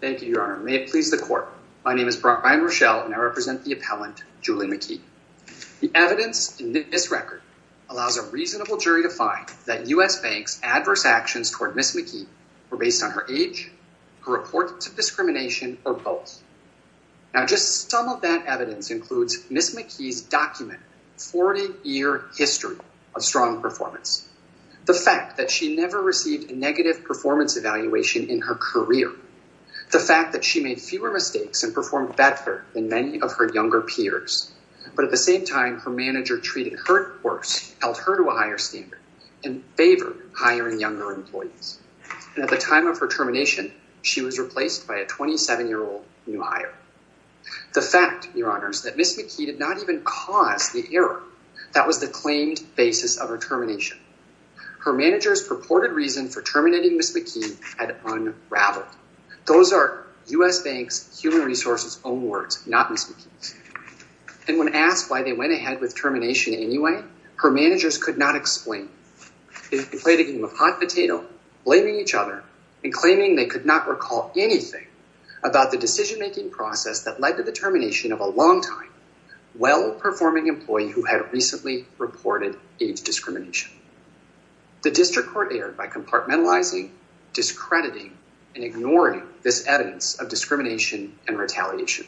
Thank you, your honor. May it please the court. My name is Brian Rochelle and I represent the appellant Julie McKey. The evidence in this record allows a reasonable jury to find that U.S. Bank's adverse actions toward Ms. McKey were based on her age, her reports of discrimination, or both. Now just some of that evidence includes Ms. McKey's documented 40-year history of strong performance, the fact that she never received a negative performance evaluation in her career, the fact that she made fewer mistakes and performed better than many of her younger peers, but at the same time her manager treated her worse, held her to a higher standard, and favored higher and younger employees. And at the time of her termination, she was replaced by a 27-year-old new hire. The fact, your honors, that Ms. McKey did not even cause the error that was the claimed basis of her termination. Her manager's purported reason for terminating Ms. McKey had unraveled. Those are U.S. Bank's human resources own words, not Ms. McKey's. And when asked why they went ahead with termination anyway, her managers could not explain. They played a game of hot potato, blaming each other and claiming they could not recall anything about the decision-making process that had recently reported age discrimination. The district court erred by compartmentalizing, discrediting, and ignoring this evidence of discrimination and retaliation.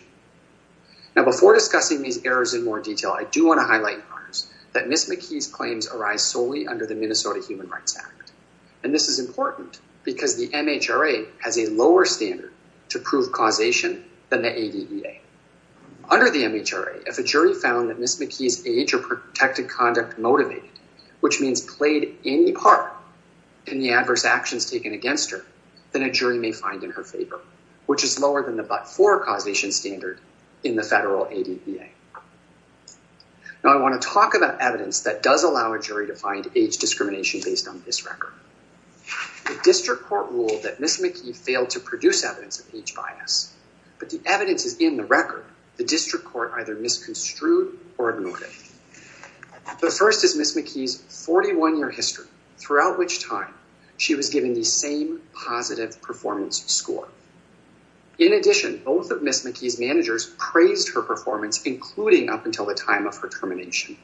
Now before discussing these errors in more detail, I do want to highlight, your honors, that Ms. McKey's claims arise solely under the Minnesota Human Rights Act. And this is important because the MHRA has a lower standard to prove causation than the ADEA. Under the MHRA, if a jury found that Ms. McKey's age protected conduct motivated, which means played any part in the adverse actions taken against her, then a jury may find in her favor, which is lower than the but-for causation standard in the federal ADEA. Now I want to talk about evidence that does allow a jury to find age discrimination based on this record. The district court ruled that Ms. McKey failed to produce evidence of age bias, but the evidence is in the record. The district court either misconstrued or ignored it. The first is Ms. McKey's 41-year history, throughout which time she was given the same positive performance score. In addition, both of Ms. McKey's managers praised her performance, including up until the time of her termination.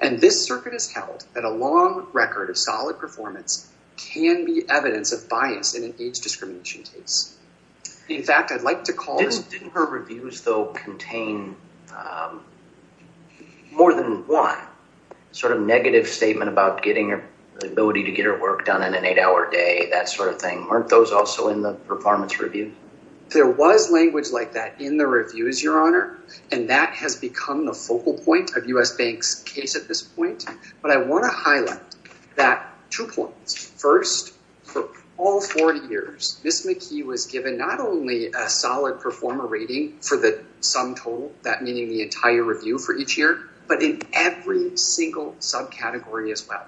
And this circuit has held that a long record of solid performance can be evidence of bias in an age discrimination case. In fact, I'd like to call... Didn't her reviews though contain more than one sort of negative statement about getting her ability to get her work done in an eight-hour day, that sort of thing? Weren't those also in the performance review? There was language like that in the reviews, your honor, and that has become the focal point of U.S. Bank's case at this point. First, for all 40 years, Ms. McKey was given not only a solid performer rating for the sum total, that meaning the entire review for each year, but in every single subcategory as well.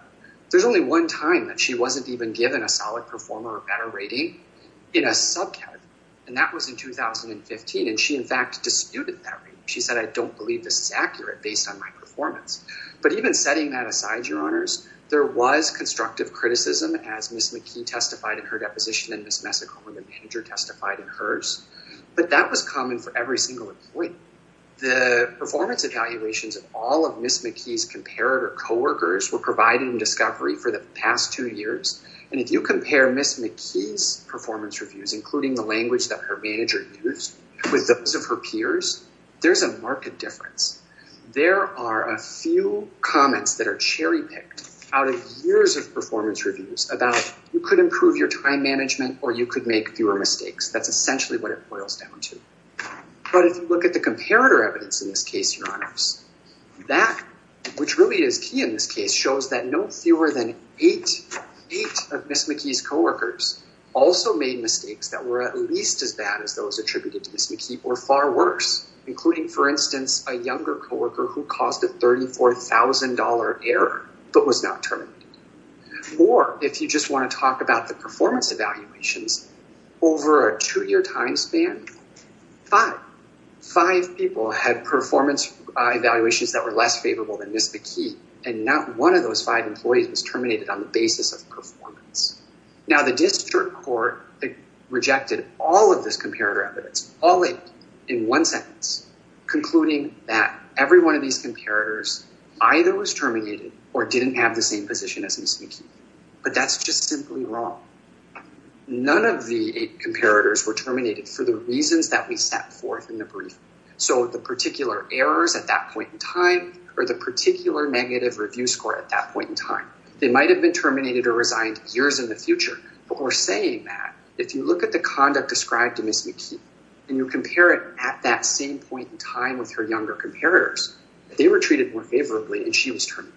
There's only one time that she wasn't even given a solid performer or better rating in a subcategory, and that was in 2015. And she in fact disputed that. She said, I don't believe this is accurate based on my performance. But even setting that aside, there was constructive criticism as Ms. McKey testified in her deposition and Ms. Messick, her manager, testified in hers. But that was common for every single employee. The performance evaluations of all of Ms. McKey's comparator co-workers were provided in Discovery for the past two years. And if you compare Ms. McKey's performance reviews, including the language that her manager used with those of her peers, there's a marked difference. There are a few comments that are cherry picked out of years of performance reviews about you could improve your time management or you could make fewer mistakes. That's essentially what it boils down to. But if you look at the comparator evidence in this case, your honors, that which really is key in this case shows that no fewer than eight of Ms. McKey's co-workers also made mistakes that were at least as bad as those attributed to Ms. McKey or far worse, including for instance, a younger co-worker who caused a $34,000 error but was not terminated. Or if you just want to talk about the performance evaluations, over a two-year time span, five. Five people had performance evaluations that were less favorable than Ms. McKey. And not one of those five employees was terminated on the basis of performance. Now the district court rejected all of this comparator evidence, all eight in one sentence, concluding that every one of these comparators either was terminated or didn't have the same position as Ms. McKey. But that's just simply wrong. None of the eight comparators were terminated for the reasons that we set forth in the brief. So the particular errors at that point in time or the particular negative review score at that point in time, they might've been terminated or resigned years in the future. But we're saying that if you look at the conduct described to Ms. McKey and you compare it at that same point in time with her younger comparators, they were treated more favorably and she was terminated.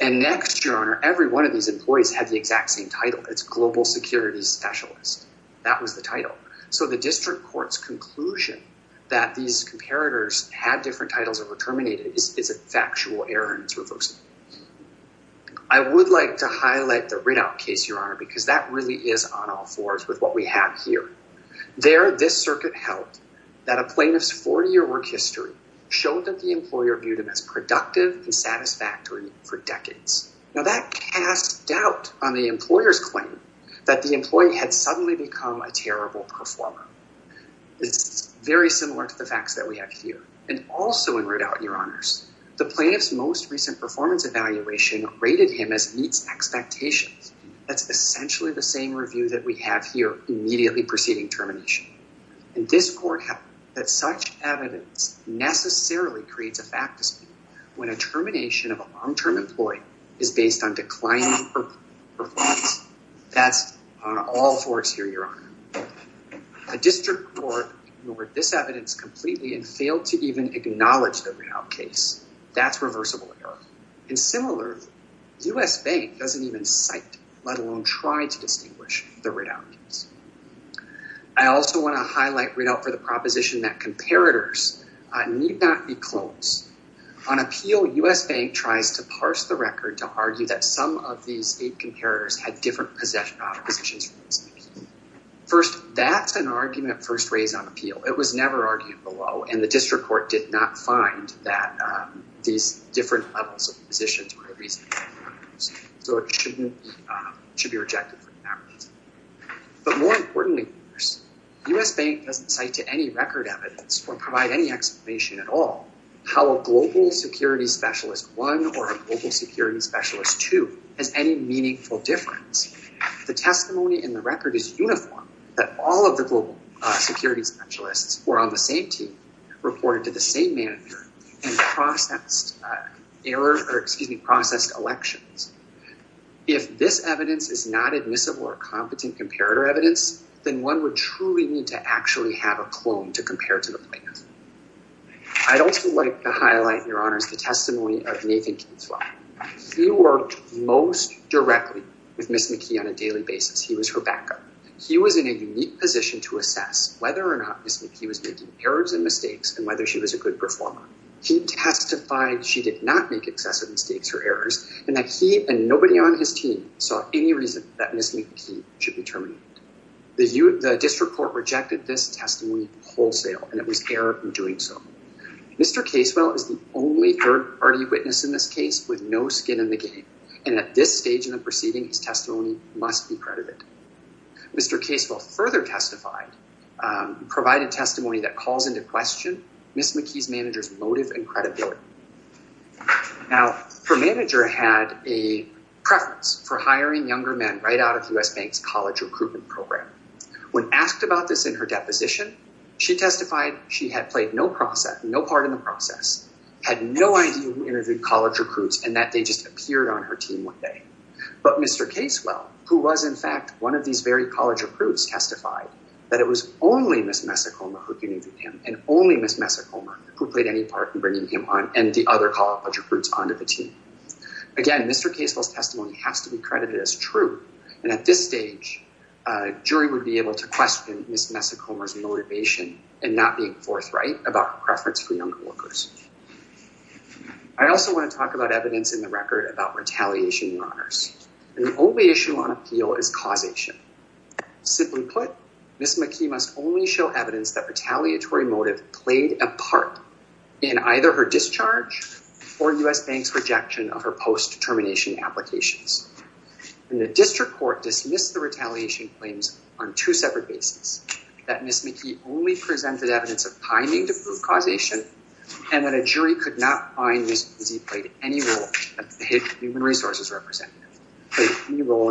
And next your honor, every one of these employees had the exact same title. It's global security specialist. That was the title. So the district court's conclusion that these comparators had different titles or were terminated is a factual error and it's reversible. I would like to highlight the Riddout case, your honor, because that really is on all fours with what we have here. There, this circuit held that a plaintiff's 40-year work history showed that the employer viewed him as productive and satisfactory for decades. Now that cast doubt on the employer's claim that the employee had suddenly become a terrible performer. It's very similar to the facts that we have here. And also in Riddout, your honors, the plaintiff's most recent performance evaluation rated him as meets expectations. That's essentially the same review that we have here immediately preceding termination. And this court held that such evidence necessarily creates a fact dispute when a termination of a long-term employee is based on declining performance. That's on all fours here, your honor. The district court ignored this evidence completely and failed to even acknowledge the Riddout case. That's reversible error. And similar, U.S. Bank doesn't even cite, let alone try to distinguish the Riddout case. I also want to highlight Riddout for the proposition that comparators need not be clones. On appeal, U.S. Bank tries to parse the record to argue that some of these eight comparators had different possessions. First, that's an argument first raised on appeal. It was never argued below. And the district court did not find that these different levels of positions were the reason. So it shouldn't be, should be rejected for that reason. But more importantly, U.S. Bank doesn't cite to any record evidence or provide any explanation at all how a global security specialist one or a global security specialist two has any meaningful difference. The testimony in the record is uniform that all of the global security specialists were on the same team, reported to the same manager, and processed error, or excuse me, processed elections. If this evidence is not admissible or competent comparator evidence, then one would truly need to actually have a clone to compare to the plan. I'd also like to highlight, your honors, the with Ms. McKee on a daily basis. He was her backup. He was in a unique position to assess whether or not Ms. McKee was making errors and mistakes, and whether she was a good performer. He testified she did not make excessive mistakes or errors, and that he and nobody on his team saw any reason that Ms. McKee should be terminated. The district court rejected this testimony wholesale, and it was error in doing so. Mr. Casewell is the only third party witness in this and at this stage in the proceeding, his testimony must be credited. Mr. Casewell further testified, provided testimony that calls into question Ms. McKee's manager's motive and credibility. Now, her manager had a preference for hiring younger men right out of U.S. Bank's college recruitment program. When asked about this in her deposition, she testified she had played no process, no part in the process, had no idea who interviewed college recruits, and that they just appeared on her team one day. But Mr. Casewell, who was in fact one of these very college recruits, testified that it was only Ms. Messicoma who interviewed him, and only Ms. Messicoma who played any part in bringing him on and the other college recruits onto the team. Again, Mr. Casewell's testimony has to be credited as true, and at this stage, a jury would be able to question Ms. Messicoma's motivation and not being forthright about preference for younger workers. I also want to talk about evidence in the record about retaliation in honors. The only issue on appeal is causation. Simply put, Ms. McKee must only show evidence that retaliatory motive played a part in either her discharge or U.S. Bank's rejection of her post-determination applications. And the district court dismissed the retaliation claims on two separate bases, that Ms. McKee only presented evidence of timing to prove causation, and that a jury could not find Ms. McKee played any role in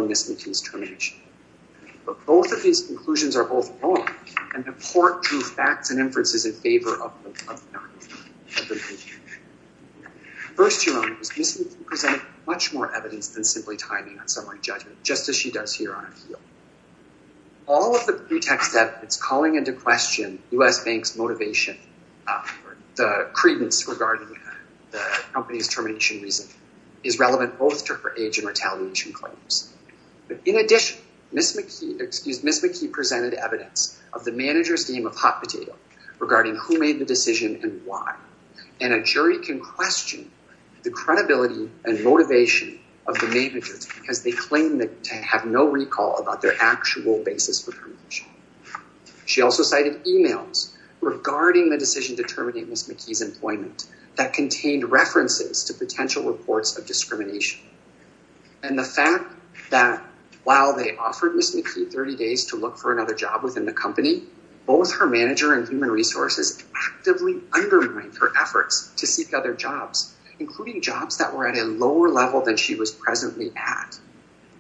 Ms. McKee's termination. But both of these conclusions are both wrong, and the court drew facts and inferences in favor of Ms. McKee. First, Ms. McKee presented much more evidence than simply timing on summary judgment, just as she does here on appeal. All of the pretext that it's calling into question U.S. Bank's motivation, the credence regarding the company's termination reason, is relevant both to her age and retaliation claims. But in addition, Ms. McKee presented evidence of the manager's game of hot potato regarding who made the decision and why, and a jury can question the credibility and actual basis for termination. She also cited emails regarding the decision to terminate Ms. McKee's employment that contained references to potential reports of discrimination. And the fact that while they offered Ms. McKee 30 days to look for another job within the company, both her manager and human resources actively undermined her efforts to seek other jobs, including jobs that were at a lower level than she was presently at.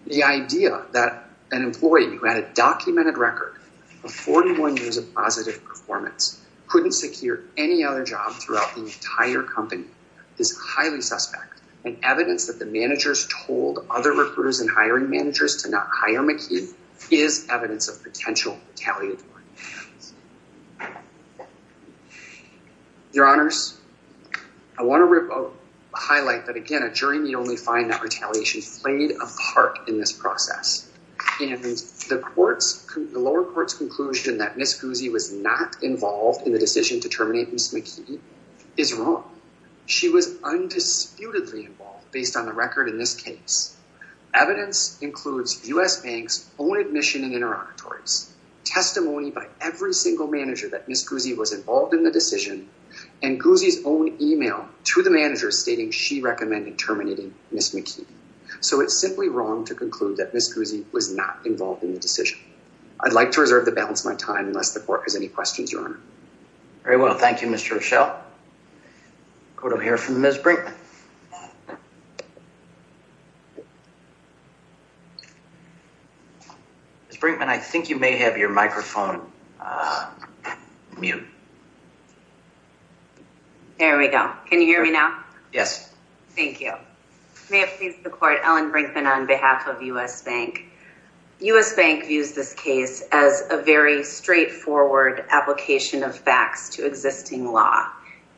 The idea that an employee who had a documented record of 41 years of positive performance couldn't secure any other job throughout the entire company is highly suspect, and evidence that the managers told other recruiters and hiring managers to not hire McKee is evidence of potential retaliatory actions. Your honors, I want to highlight that again, a jury may only find that retaliation played a part in this process. And the lower court's conclusion that Ms. Guzzi was not involved in the decision to terminate Ms. McKee is wrong. She was undisputedly involved based on the record in this case. Evidence includes US Bank's own admission and interlocutories, testimony by every single manager that Ms. Guzzi was involved in the Ms. McKee. So it's simply wrong to conclude that Ms. Guzzi was not involved in the decision. I'd like to reserve the balance of my time unless the court has any questions, your honor. Very well, thank you, Mr. Rochelle. I'm going to hear from Ms. Brinkman. Ms. Brinkman, I think you may have your microphone on. There we go. Can you hear me now? Yes. Thank you. May it please the court, Ellen Brinkman on behalf of US Bank. US Bank views this case as a very straightforward application of facts to existing law.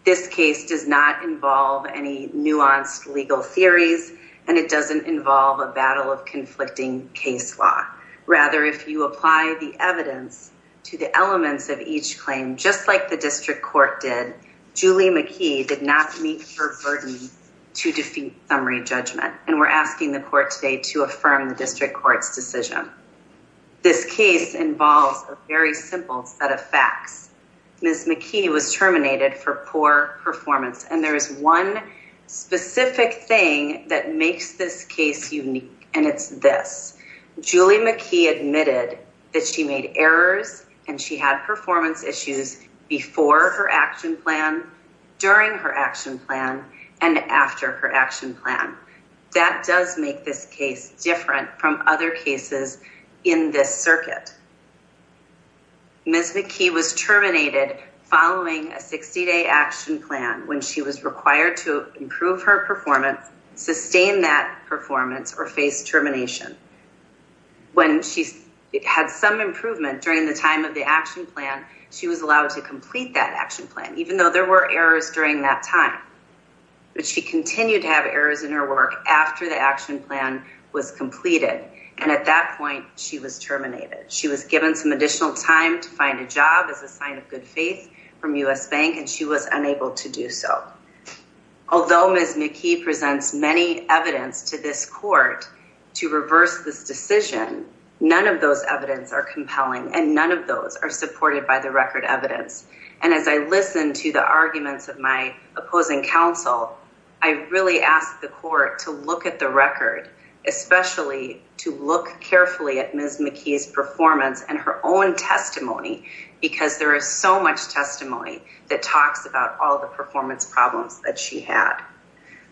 This case does not involve any nuanced legal theories, and it doesn't involve a battle of conflicting case law. Rather, if you apply the evidence to the elements of each claim, just like the district court did, Julie McKee did not meet her burden to defeat summary judgment, and we're asking the court today to affirm the district court's decision. This case involves a very simple set of facts. Ms. McKee was terminated for poor performance, and there is one specific thing that makes this case unique, and it's this. Julie McKee admitted that she made errors and she had performance issues before her action plan, during her action plan, and after her action plan. That does make this case different from other cases in this circuit. Ms. McKee was terminated following a 60-day action plan when she was required to improve her performance, sustain that performance, or face termination. When she had some improvement during the time of the action plan, she was allowed to complete that action plan, even though there were errors during that time. But she continued to have errors in her work after the action plan was completed, and at that point she was terminated. She was given some additional time to find a job as a sign of good faith from U.S. Bank, and she was unable to do so. Although Ms. McKee presents many evidence to this court to reverse this decision, none of those evidence are compelling, and none of those are supported by the record evidence. And as I listen to the arguments of my opposing counsel, I really ask the court to look at the case, especially to look carefully at Ms. McKee's performance and her own testimony, because there is so much testimony that talks about all the performance problems that she had.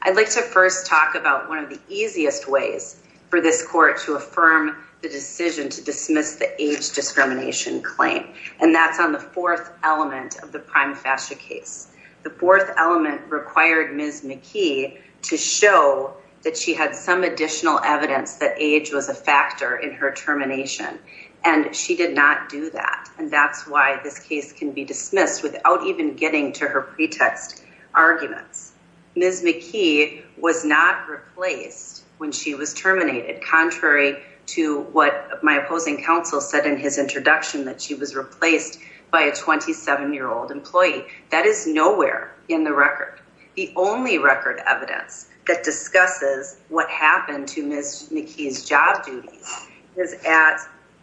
I'd like to first talk about one of the easiest ways for this court to affirm the decision to dismiss the age discrimination claim, and that's on the fourth element of the prime fascia case. The fourth element required Ms. McKee to show that she had some additional evidence that age was a factor in her termination, and she did not do that. And that's why this case can be dismissed without even getting to her pretext arguments. Ms. McKee was not replaced when she was terminated, contrary to what my opposing counsel said in his introduction, that she was replaced by a 27-year-old employee. That is nowhere in the record. The only record evidence that discusses what happened to Ms. McKee's job duties is at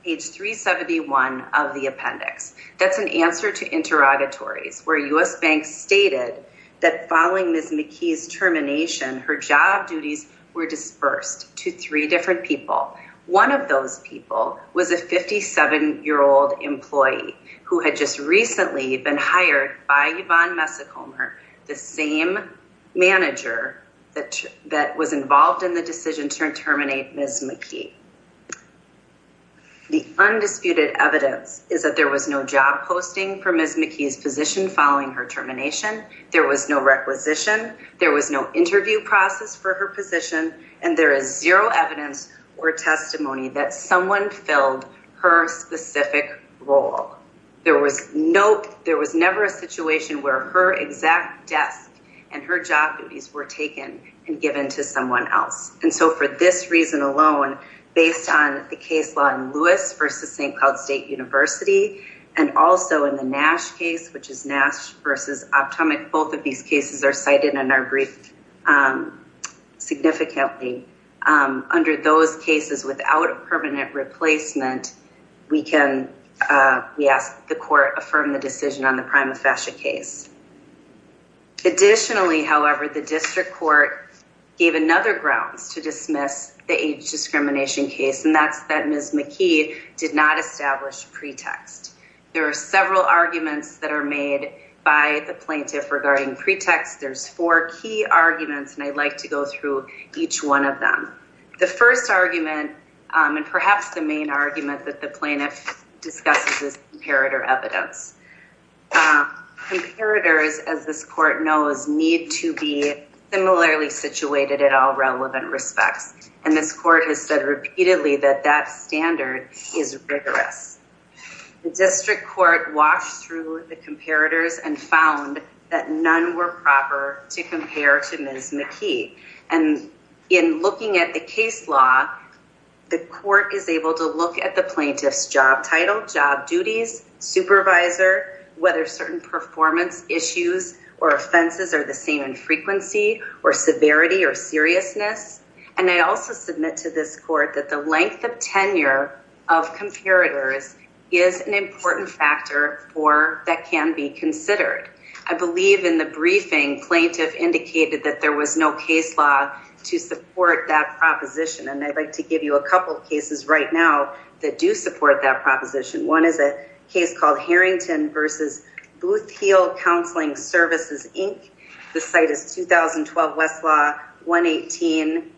page 371 of the appendix. That's an answer to interrogatories, where U.S. banks stated that following Ms. McKee's termination, her job duties were dispersed to three different people. One of those people was a 57-year-old employee who had just recently been hired by Yvonne Messacomer, the same manager that was involved in the decision to terminate Ms. McKee. The undisputed evidence is that there was no job posting for Ms. McKee's position following her termination, there was no requisition, there was no interview process for her position, and there is zero evidence or testimony that someone filled her specific role. There was never a situation where her exact desk and her job duties were taken and given to someone else. And so for this reason alone, based on the case law in Lewis v. St. Cloud State University, and also in the Nash case, which is Nash v. Optumac, both of these cases are cited in our brief significantly. Under those cases, without a permanent replacement, we ask the court affirm the decision on the prima facie case. Additionally, however, the district court gave another grounds to dismiss the age discrimination case, and that's that Ms. McKee did not establish pretext. There are several arguments that are made by the plaintiff regarding pretext. There's four key arguments, and I'd like to go through each one of them. The first argument, and perhaps the main argument that the plaintiff discusses is comparator evidence. Comparators, as this court knows, need to be similarly situated at all relevant respects, and this court has said repeatedly that that standard is rigorous. The district court walked through the comparators and found that none were proper to compare to Ms. McKee. And in looking at the case law, the court is able to look at the plaintiff's job title, job duties, supervisor, whether certain performance issues or offenses are the same in frequency, or severity, or seriousness. And I also submit to this court that the length of tenure of comparators is an important factor that can be considered. I believe in the briefing, plaintiff indicated that there was no case law to support that proposition, and I'd like to give you a couple of cases right now that do support that proposition. One is a case called Harrington v. Booth Hill Counseling Services, Inc. The site is 2012 Westlaw 118-8276.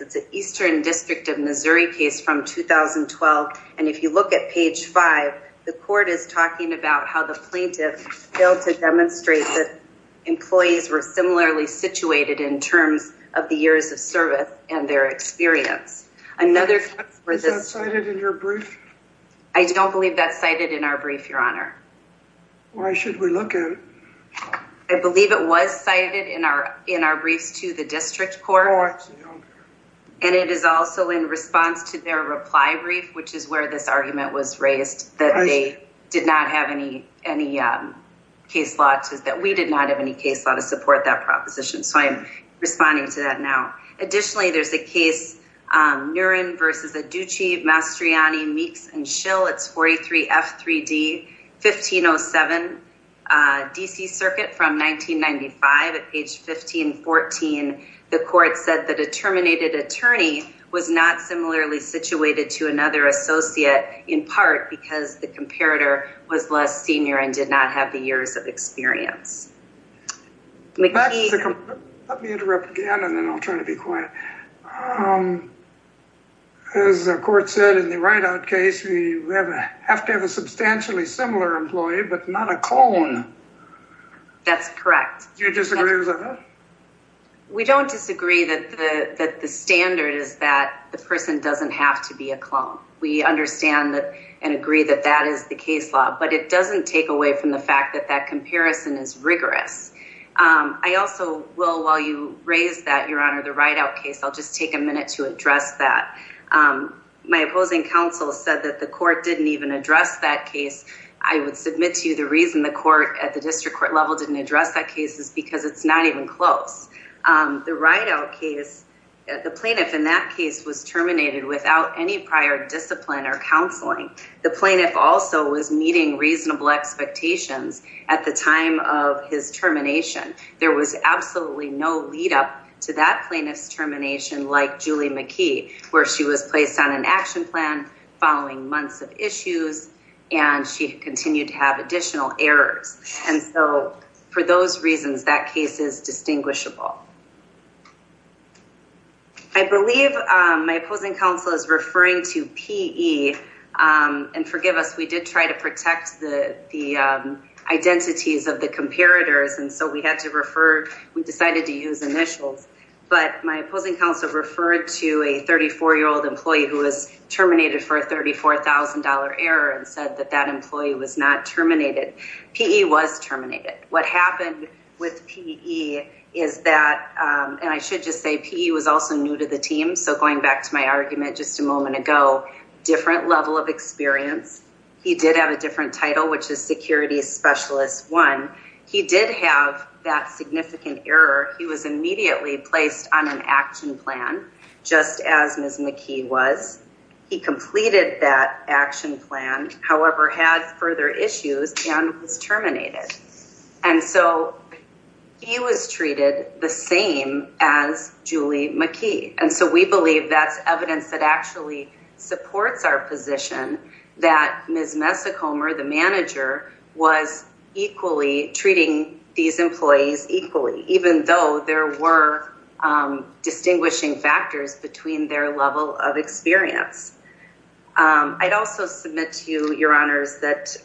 It's Eastern District of Missouri case from 2012, and if you look at page 5, the court is talking about how the plaintiff failed to demonstrate that employees were similarly situated in terms of the years of service and their experience. Another... Is that cited in your brief? I don't believe that's cited in our brief, Your Honor. Why should we look at it? I believe it was cited in our briefs to the district court. I actually don't care. And it is also in response to their reply brief, which is where this argument was raised, that they did not have any case law, that we did not have any case law to support that proposition. So I'm responding to that now. Additionally, there's a case, Nuren v. Aduchi, Mastriani, Meeks & Schill. It's 43F3D, 1507 D.C. Circuit from 1995. At page 1514, the court said that a terminated attorney was not similarly situated to another associate, in part because the comparator was less senior and did not have the years of experience. Let me interrupt again, and then I'll try to be quiet. As the court said in the write-out case, we have to have a substantially similar employee, but not a clone. That's correct. Do you disagree with that? We don't disagree that the standard is that the person doesn't have to be a clone. We understand that and agree that that is the case law, but it doesn't take away from the fact that that comparison is rigorous. I also will, while you raise that, Your Honor, the write-out case, I'll just take a minute to address that. My opposing counsel said that the court didn't even address that case. I would submit to you the reason the court at the district court level didn't address that case is because it's not even close. The write-out case, the plaintiff in that case was terminated without any prior discipline or counseling. The plaintiff also was meeting reasonable expectations at the time of his termination. There was absolutely no lead-up to that plaintiff's termination like Julie McKee, where she was placed on an action plan following months of issues, and she continued to have additional errors. And so, for those reasons, that case is distinguishable. I believe my opposing counsel is referring to PE, and forgive us, we did try to protect the identities of the comparators, and so we had to refer, we decided to use initials, but my opposing counsel referred to a 34-year-old employee who was terminated for $34,000 error and said that that employee was not terminated. PE was terminated. What happened with PE is that, and I should just say PE was also new to the team, so going back to my argument just a moment ago, different level of experience. He did have a different title, which is security specialist one. He did have that significant error. He was immediately placed on an action plan, just as Ms. McKee was. He completed that action plan, however, had further issues and was terminated. And so, he was treated the same as Julie McKee, and so we believe that's evidence that actually supports our position that Ms. Messicomer, the manager, was equally treating these employees equally, even though there were distinguishing factors between their level of experience. I'd also submit to you, your honors, that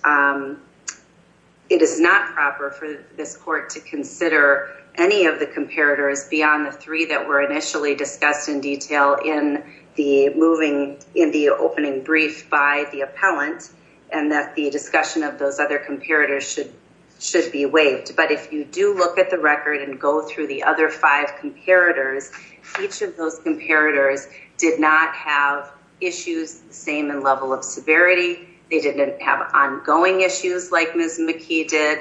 it is not proper for this court to consider any of the comparators beyond the three that were initially discussed in detail in the opening brief by the appellant, and that the discussion of those other comparators should be waived. But if you do look at the record and go through the other five comparators, each of those comparators did not have issues the same in level of severity. They didn't have ongoing issues like Ms. McKee did.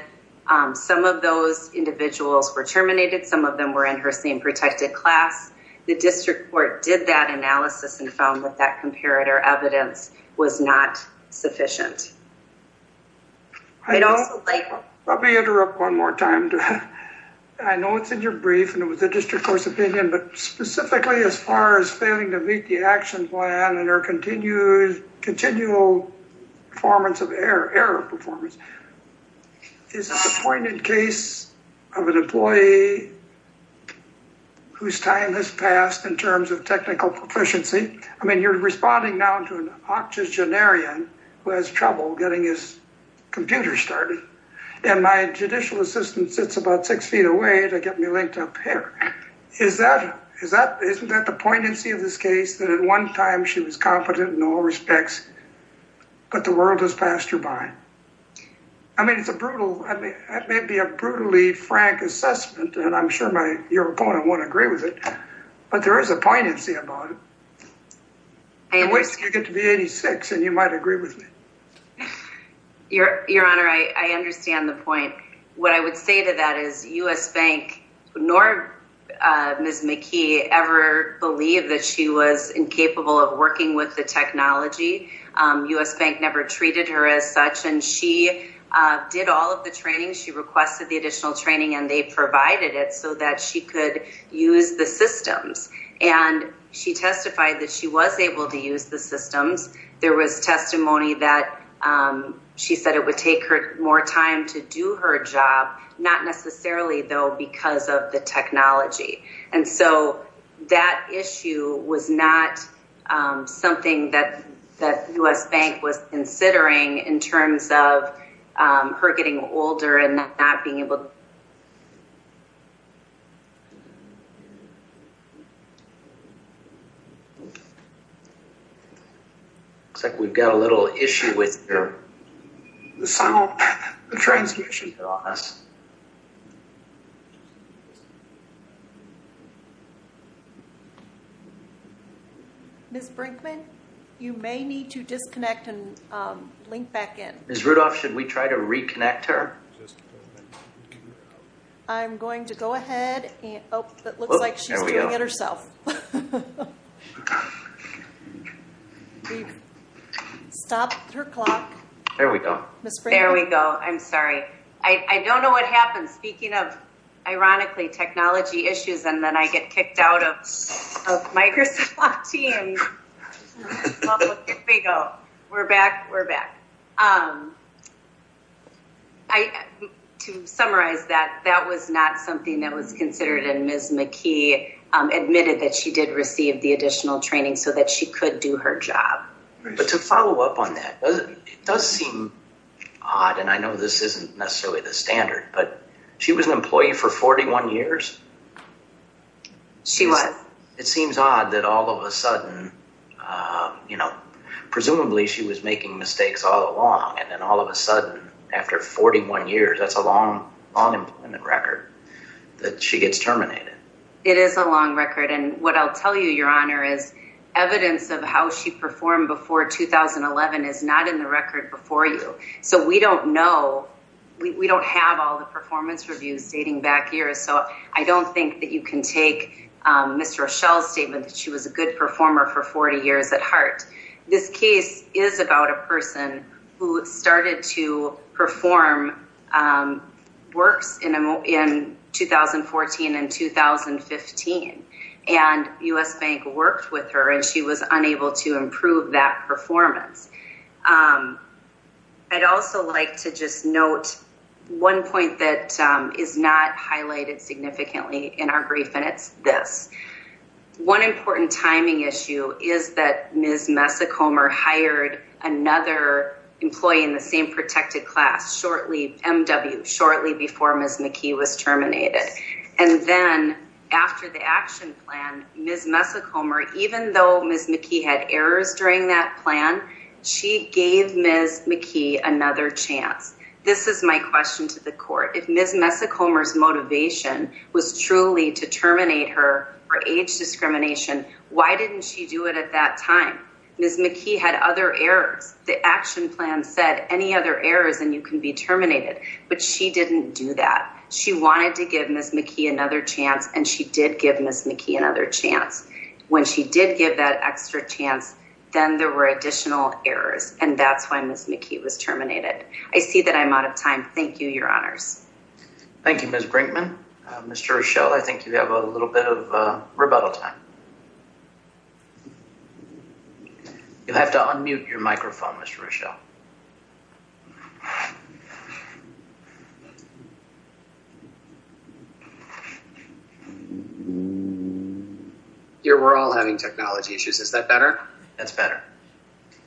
Some of those individuals were terminated. Some of them were in her same protected class. The district court did that analysis and found that that comparator evidence was not sufficient. Let me interrupt one more time. I know it's in your brief, and it was the district court's opinion, but specifically as far as failing to meet the action plan and her continual performance of error, is this a pointed case of an employee whose time has passed in terms of technical proficiency? I mean, you're responding now to an oxygenarian who has trouble getting his computer started, and my judicial assistant sits about six feet away to get me linked up here. Isn't that the poignancy of this case, that at one time she was competent in all respects, but the world has passed her by? I mean, it's a brutal, it may be a brutally frank assessment, and I'm sure your opponent won't agree with it, but there is a poignancy about it. In which case, you get to be 86, and you might agree with me. Your Honor, I understand the point. What I would say to that is U.S. Bank nor Ms. McKee ever believed that she was incapable of working with the technology. U.S. Bank never treated her as such, and she did all of the training. She requested the additional training, and they provided it so that she could use the systems, and she testified that she was able to use the systems. There was testimony that she said it would take her more time to do her not necessarily, though, because of the technology. And so, that issue was not something that U.S. Bank was considering in terms of her getting older and not being able to work. Looks like we've got a little issue with the sound transmission. Ms. Brinkman, you may need to disconnect and link back in. Ms. Rudolph, should we try to reconnect her? I'm going to go ahead. It looks like she's doing it herself. Stopped her clock. There we go. Ms. Brinkman? There we go. I'm sorry. I don't know what happened. Speaking of, ironically, technology issues, and then I get kicked out of Microsoft Teams. There we go. We're back. We're back. To summarize that, that was not something that was considered, and Ms. McKee admitted that she did receive the additional training so that she could do her job. But to follow up on that, it does seem odd, and I know this isn't necessarily the standard, but she was an employee for 41 years. She was. It seems odd that all of a sudden, presumably, she was making mistakes all along, and then all of a sudden, after 41 years, that's a long employment record, that she gets terminated. It is a long record, and what I'll tell you, Your Honor, is evidence of how she performed before 2011 is not in the performance reviews dating back years, so I don't think that you can take Ms. Rochelle's statement that she was a good performer for 40 years at heart. This case is about a person who started to perform works in 2014 and 2015, and U.S. Bank worked with her, and she was unable to improve that performance. I'd also like to just note one point that is not highlighted significantly in our brief, and it's this. One important timing issue is that Ms. Messacomer hired another employee in the same protected class shortly, MW, shortly before Ms. McKee was terminated, and then after the action plan, Ms. Messacomer, even though Ms. McKee had errors during that plan, she gave Ms. McKee another chance. This is my question to the court. If Ms. Messacomer's motivation was truly to terminate her for age discrimination, why didn't she do it at that time? Ms. McKee had other errors. The action plan said any other errors and you can be terminated, but she didn't do that. She wanted to give Ms. McKee another chance, and she did give Ms. McKee another chance. When she did give that extra chance, then there were additional errors, and that's why Ms. McKee was terminated. I see that I'm out of time. Thank you, Your Honors. Thank you, Ms. Brinkman. Mr. Rochelle, I think you have a little bit of rebuttal time. You'll have to unmute your microphone, Mr. Rochelle. Here, we're all having technology issues. Is that better? That's better.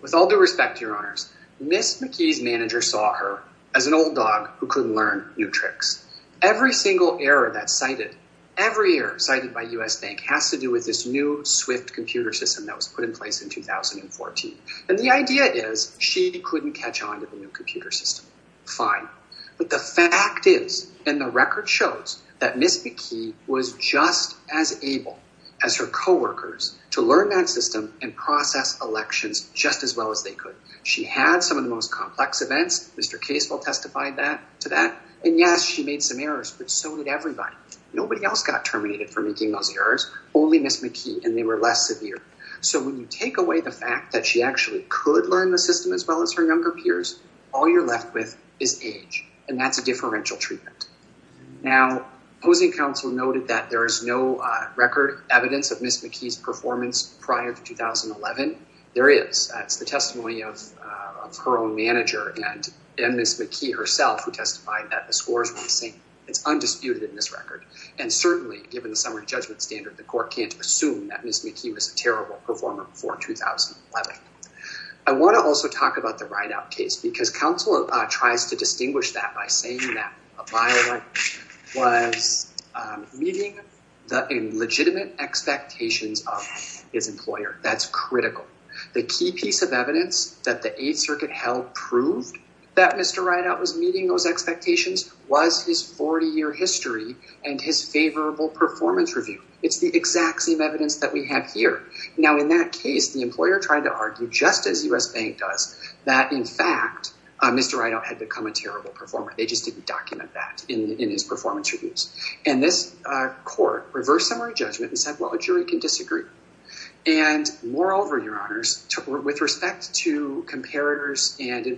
With all due respect, Your Honors, Ms. McKee's manager saw her as an old dog who couldn't learn new tricks. Every single error that's cited, every error cited by U.S. Bank has to do with this new swift computer system that was put in place in 2014. The idea is she couldn't catch on to the computer system. Fine. The fact is, and the record shows, that Ms. McKee was just as able as her coworkers to learn that system and process elections just as well as they could. She had some of the most complex events. Mr. Casewell testified to that. Yes, she made some errors, but so did everybody. Nobody else got terminated for making those errors, only Ms. McKee, and they were less severe. When you take away the fact that she actually could learn the system as well as her peers, all you're left with is age, and that's a differential treatment. Now, opposing counsel noted that there is no record evidence of Ms. McKee's performance prior to 2011. There is. That's the testimony of her own manager and Ms. McKee herself, who testified that the scores were the same. It's undisputed in this record. Certainly, given the summary judgment standard, the court can't assume that Ms. McKee was a terrible performer before 2011. I want to also talk about the Rideout case because counsel tries to distinguish that by saying that a by-election was meeting the illegitimate expectations of his employer. That's critical. The key piece of evidence that the Eighth Circuit held proved that Mr. Rideout was meeting those expectations was his 40-year history and his favorable performance review. It's the exact same evidence that we have here. Now, in that case, the employer tried to argue, just as U.S. Bank does, that, in fact, Mr. Rideout had become a terrible performer. They just didn't document that in his performance reviews. This court reversed summary judgment and said, well, a jury can disagree. Moreover, Your Honors, with respect to comparators, and in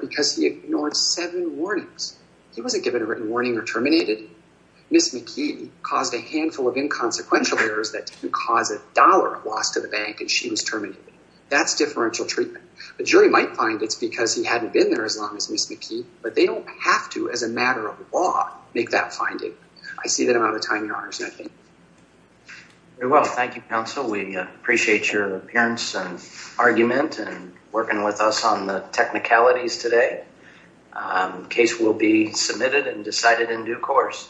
because he ignored seven warnings. He wasn't given a written warning or terminated. Ms. McKee caused a handful of inconsequential errors that didn't cause a dollar loss to the bank, and she was terminated. That's differential treatment. The jury might find it's because he hadn't been there as long as Ms. McKee, but they don't have to, as a matter of law, make that finding. I see that I'm out of time, Your Honors. Very well. Thank you, counsel. We have a number of technicalities today. The case will be submitted and decided in due course.